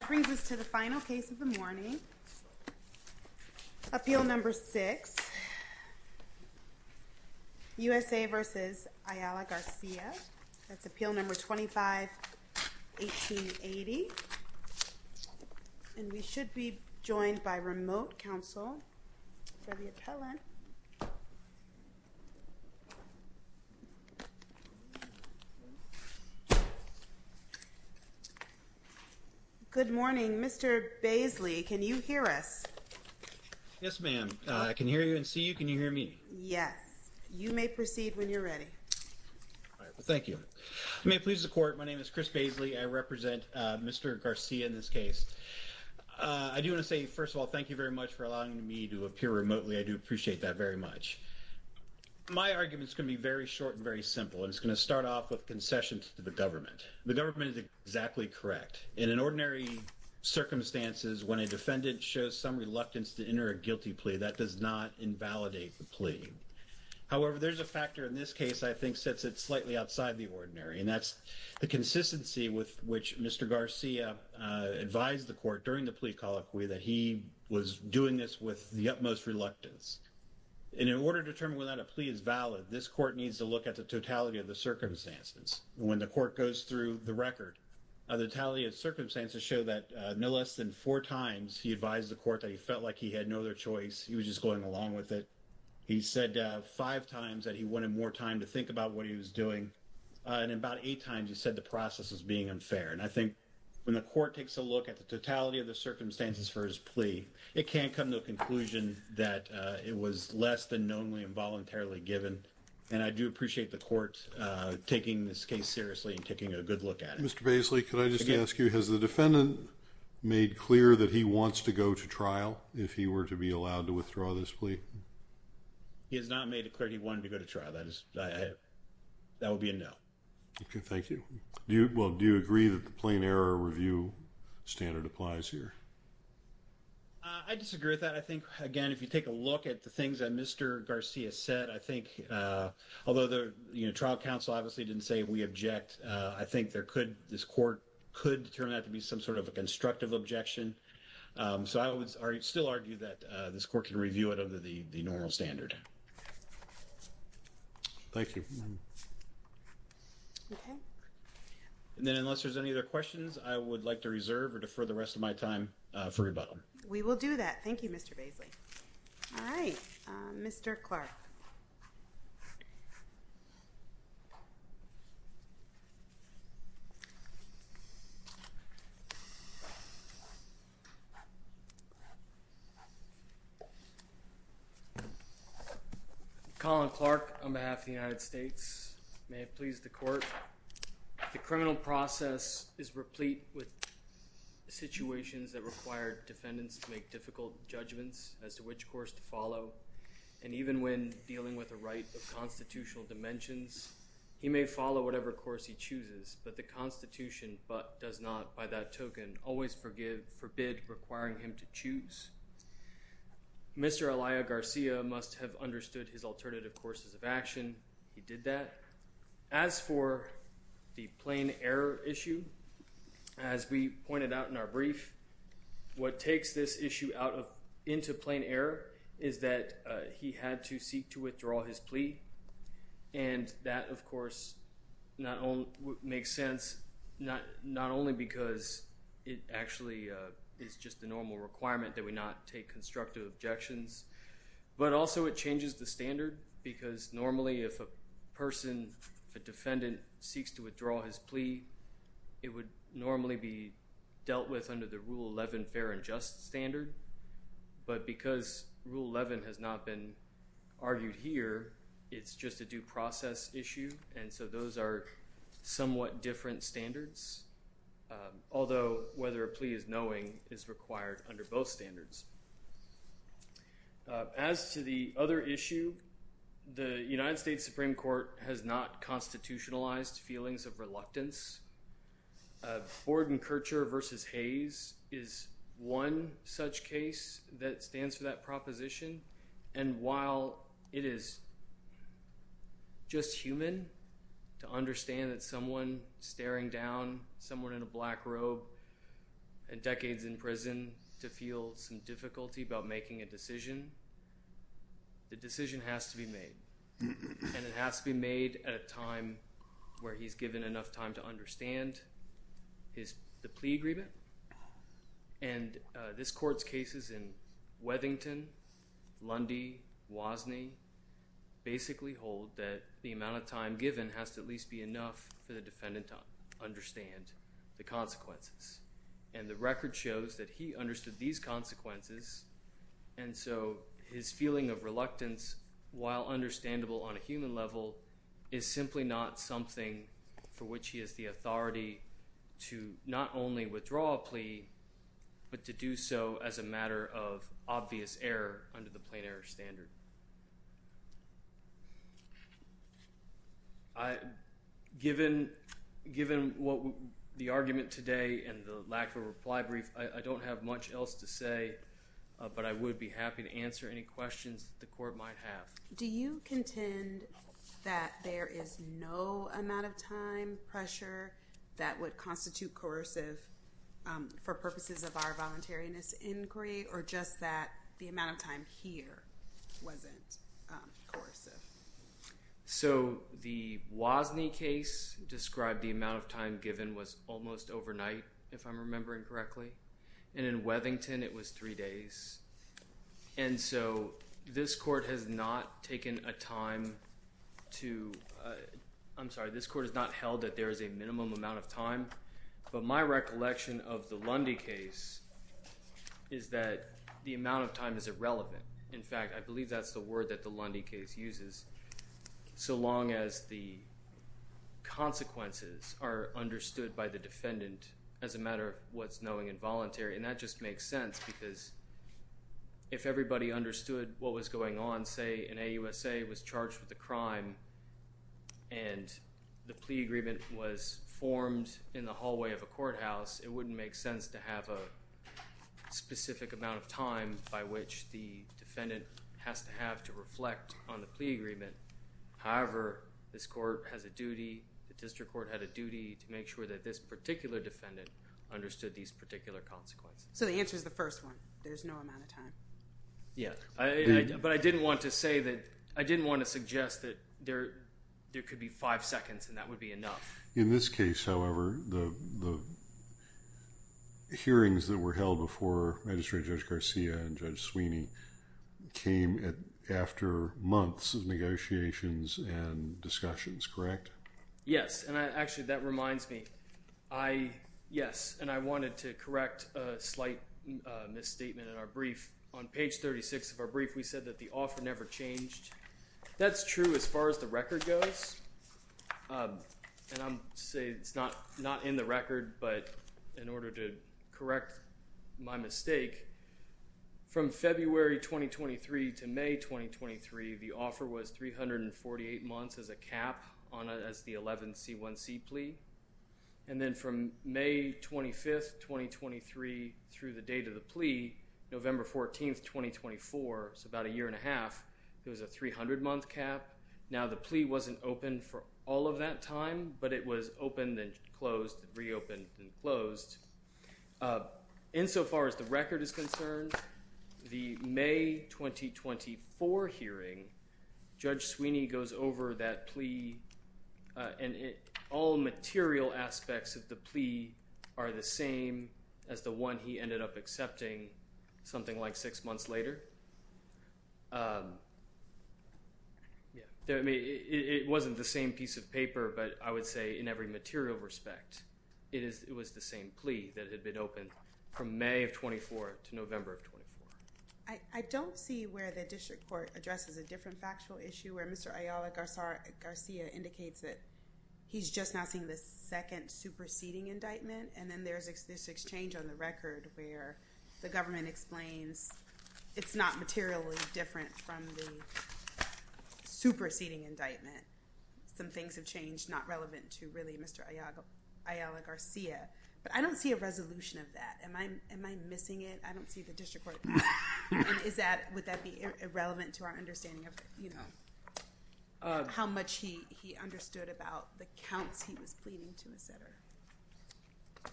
That brings us to the final case of the morning, Appeal No. 6, U.S.A. v. Ayala-Garcia. That's Appeal No. 25-1880. And we should be joined by remote counsel, Debbie Appellant. Good morning. Mr. Baisley, can you hear us? Yes, ma'am. I can hear you and see you. Can you hear me? Yes. You may proceed when you're ready. All right. Well, thank you. You may please report. My name is Chris Baisley. I represent Mr. Garcia in this case. I do want to say, first of all, thank you very much for allowing me to appear remotely. I do appreciate that very much. My argument is going to be very short and very simple, and it's going to start off with concessions to the government. The government is exactly correct. In an ordinary circumstances, when a defendant shows some reluctance to enter a guilty plea, that does not invalidate the plea. However, there's a factor in this case I think sets it slightly outside the ordinary, and that's the consistency with which Mr. Garcia advised the court during the plea colloquy that he was doing this with the utmost reluctance. In order to determine whether or not a plea is valid, this court needs to look at the totality of the circumstances. When the court goes through the record, the totality of circumstances show that no less than four times he advised the court that he felt like he had no other choice. He was just going along with it. He said five times that he wanted more time to think about what he was doing, and about eight times he said the process was being unfair. And I think when the court takes a look at the totality of the circumstances for his plea, it can't come to a conclusion that it was less than knowingly and voluntarily given. And I do appreciate the court taking this case seriously and taking a good look at it. Mr. Baisley, could I just ask you, has the defendant made clear that he wants to go to trial if he were to be allowed to withdraw this plea? He has not made it clear he wanted to go to trial. That would be a no. Okay, thank you. Well, do you agree that the plain error review standard applies here? I disagree with that. I think, again, if you take a look at the things that Mr. Garcia said, I think although the trial counsel obviously didn't say we object, I think this court could turn out to be some sort of a constructive objection. So I would still argue that this court can review it under the normal standard. Thank you. And then unless there's any other questions, I would like to reserve or defer the rest of my time for rebuttal. We will do that. Thank you, Mr. Baisley. All right. Mr. Clark. Colin Clark on behalf of the United States. May it please the court. The criminal process is replete with situations that require defendants to make difficult judgments as to which course to follow, and even when dealing with the right of constitutional dimensions, he may follow whatever course he chooses, but the Constitution does not, by that token, always forbid requiring him to choose. Mr. Elia Garcia must have understood his alternative courses of action. He did that. As for the plain error issue, as we pointed out in our brief, what takes this issue out into plain error is that he had to seek to withdraw his plea, and that, of course, makes sense not only because it actually is just the normal requirement that we not take constructive objections, but also it changes the standard because normally if a person, a defendant, seeks to withdraw his plea, it would normally be dealt with under the Rule 11 fair and just standard, but because Rule 11 has not been argued here, it's just a due process issue, and so those are somewhat different standards, although whether a plea is knowing is required under both standards. As to the other issue, the United States Supreme Court has not constitutionalized feelings of reluctance. Ford and Kircher v. Hayes is one such case that stands for that proposition, and while it is just human to understand that someone staring down someone in a black robe and decades in prison to feel some difficulty about making a decision, the decision has to be made, and it has to be made at a time where he's given enough time to understand the plea agreement, and this Court's cases in Weathington, Lundy, Wasney basically hold that the amount of time given has to at least be enough for the defendant to understand the consequences, and the record shows that he understood these consequences, and so his feeling of reluctance, while understandable on a human level, is simply not something for which he has the authority to not only withdraw a plea, but to do so as a matter of obvious error under the plain error standard. Given the argument today and the lack of a reply brief, I don't have much else to say, but I would be happy to answer any questions that the Court might have. Do you contend that there is no amount of time pressure that would constitute coercive for purposes of our voluntariness inquiry, or just that the amount of time here wasn't coercive? So the Wasney case described the amount of time given was almost overnight, if I'm remembering correctly, and in Weathington it was three days, and so this Court has not taken a time to – I'm sorry, this Court has not held that there is a minimum amount of time, but my recollection of the Lundy case is that the amount of time is irrelevant. In fact, I believe that's the word that the Lundy case uses, so long as the consequences are understood by the defendant as a matter of what's knowing and voluntary, and that just makes sense because if everybody understood what was going on, say an AUSA was charged with a crime and the plea agreement was formed in the hallway of a courthouse, it wouldn't make sense to have a specific amount of time by which the defendant has to have to reflect on the plea agreement. However, this Court has a duty, the District Court had a duty, to make sure that this particular defendant understood these particular consequences. So the answer is the first one, there's no amount of time. But I didn't want to say that – I didn't want to suggest that there could be five seconds and that would be enough. In this case, however, the hearings that were held before Magistrate Judge Garcia and Judge Sweeney came after months of negotiations and discussions, correct? Yes, and actually that reminds me. Yes, and I wanted to correct a slight misstatement in our brief. On page 36 of our brief, we said that the offer never changed. That's true as far as the record goes, and I'm saying it's not in the record, but in order to correct my mistake, from February 2023 to May 2023, the offer was 348 months as a cap as the 11C1C plea. And then from May 25th, 2023 through the date of the plea, November 14th, 2024, so about a year and a half, it was a 300-month cap. Now, the plea wasn't open for all of that time, but it was opened and closed and reopened and closed. Insofar as the record is concerned, the May 2024 hearing, Judge Sweeney goes over that plea, and all material aspects of the plea are the same as the one he ended up accepting something like six months later. It wasn't the same piece of paper, but I would say in every material respect, it was the same plea that had been opened from May of 2024 to November of 2024. I don't see where the district court addresses a different factual issue, where Mr. Ayala Garcia indicates that he's just now seeing the second superseding indictment, and then there's this exchange on the record where the government explains it's not materially different from the superseding indictment. Some things have changed not relevant to really Mr. Ayala Garcia. But I don't see a resolution of that. Am I missing it? I don't see the district court. Would that be irrelevant to our understanding of how much he understood about the counts he was pleading to, etc.?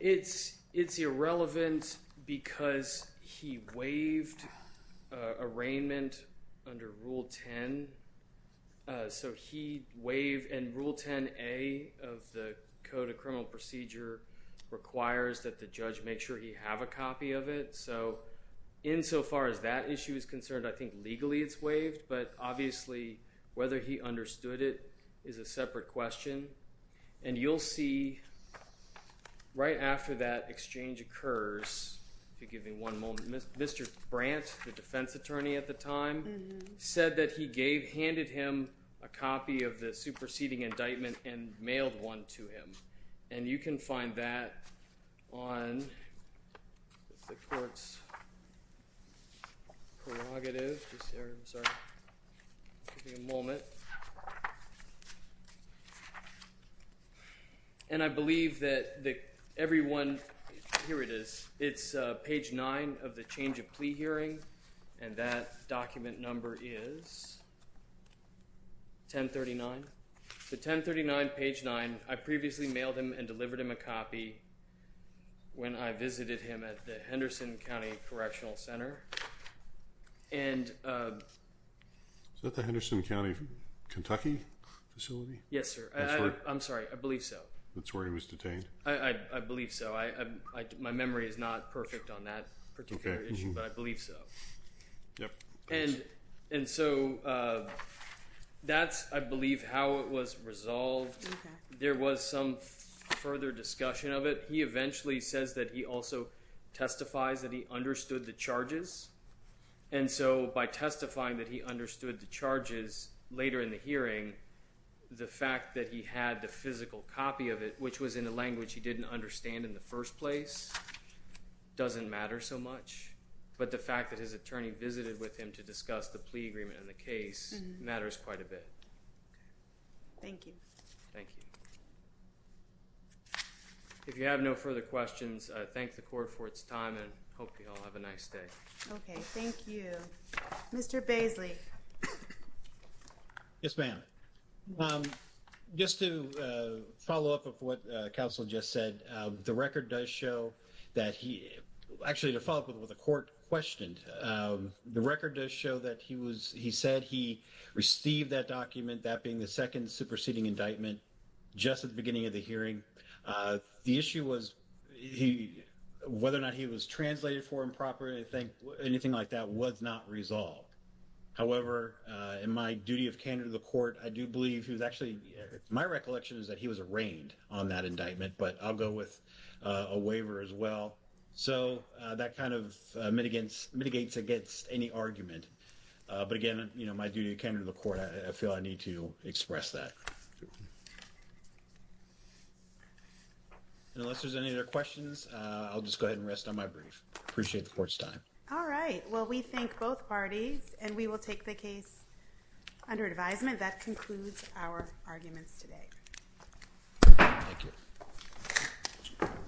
It's irrelevant because he waived arraignment under Rule 10, and Rule 10A of the Code of Criminal Procedure requires that the judge make sure he have a copy of it. So insofar as that issue is concerned, I think legally it's waived, but obviously whether he understood it is a separate question. And you'll see right after that exchange occurs, if you give me one moment, Mr. Brandt, the defense attorney at the time, said that he handed him a copy of the superseding indictment and mailed one to him. And you can find that on the court's prerogative. Give me a moment. And I believe that everyone – here it is. It's page 9 of the change of plea hearing, and that document number is 1039. The 1039, page 9. I previously mailed him and delivered him a copy when I visited him at the Henderson County Correctional Center. Is that the Henderson County, Kentucky facility? Yes, sir. I'm sorry. I believe so. That's where he was detained. I believe so. My memory is not perfect on that particular issue, but I believe so. Yep. As to how it was resolved, there was some further discussion of it. He eventually says that he also testifies that he understood the charges. And so by testifying that he understood the charges later in the hearing, the fact that he had the physical copy of it, which was in a language he didn't understand in the first place, doesn't matter so much. But the fact that his attorney visited with him to discuss the plea agreement in the case matters quite a bit. Thank you. Thank you. If you have no further questions, I thank the court for its time and hope you all have a nice day. Okay, thank you. Mr. Baisley. Yes, ma'am. Just to follow up of what counsel just said, the record does show that he actually, to follow up with what the court questioned, the record does show that he was he said he received that document, that being the second superseding indictment just at the beginning of the hearing. The issue was he whether or not he was translated for improper. I think anything like that was not resolved. However, in my duty of candor to the court, I do believe he was actually my recollection is that he was arraigned on that indictment, but I'll go with a waiver as well. So that kind of mitigates against any argument. But again, my duty of candor to the court, I feel I need to express that. Unless there's any other questions, I'll just go ahead and rest on my brief. Appreciate the court's time. All right. Well, we thank both parties, and we will take the case under advisement. That concludes our arguments today. Thank you.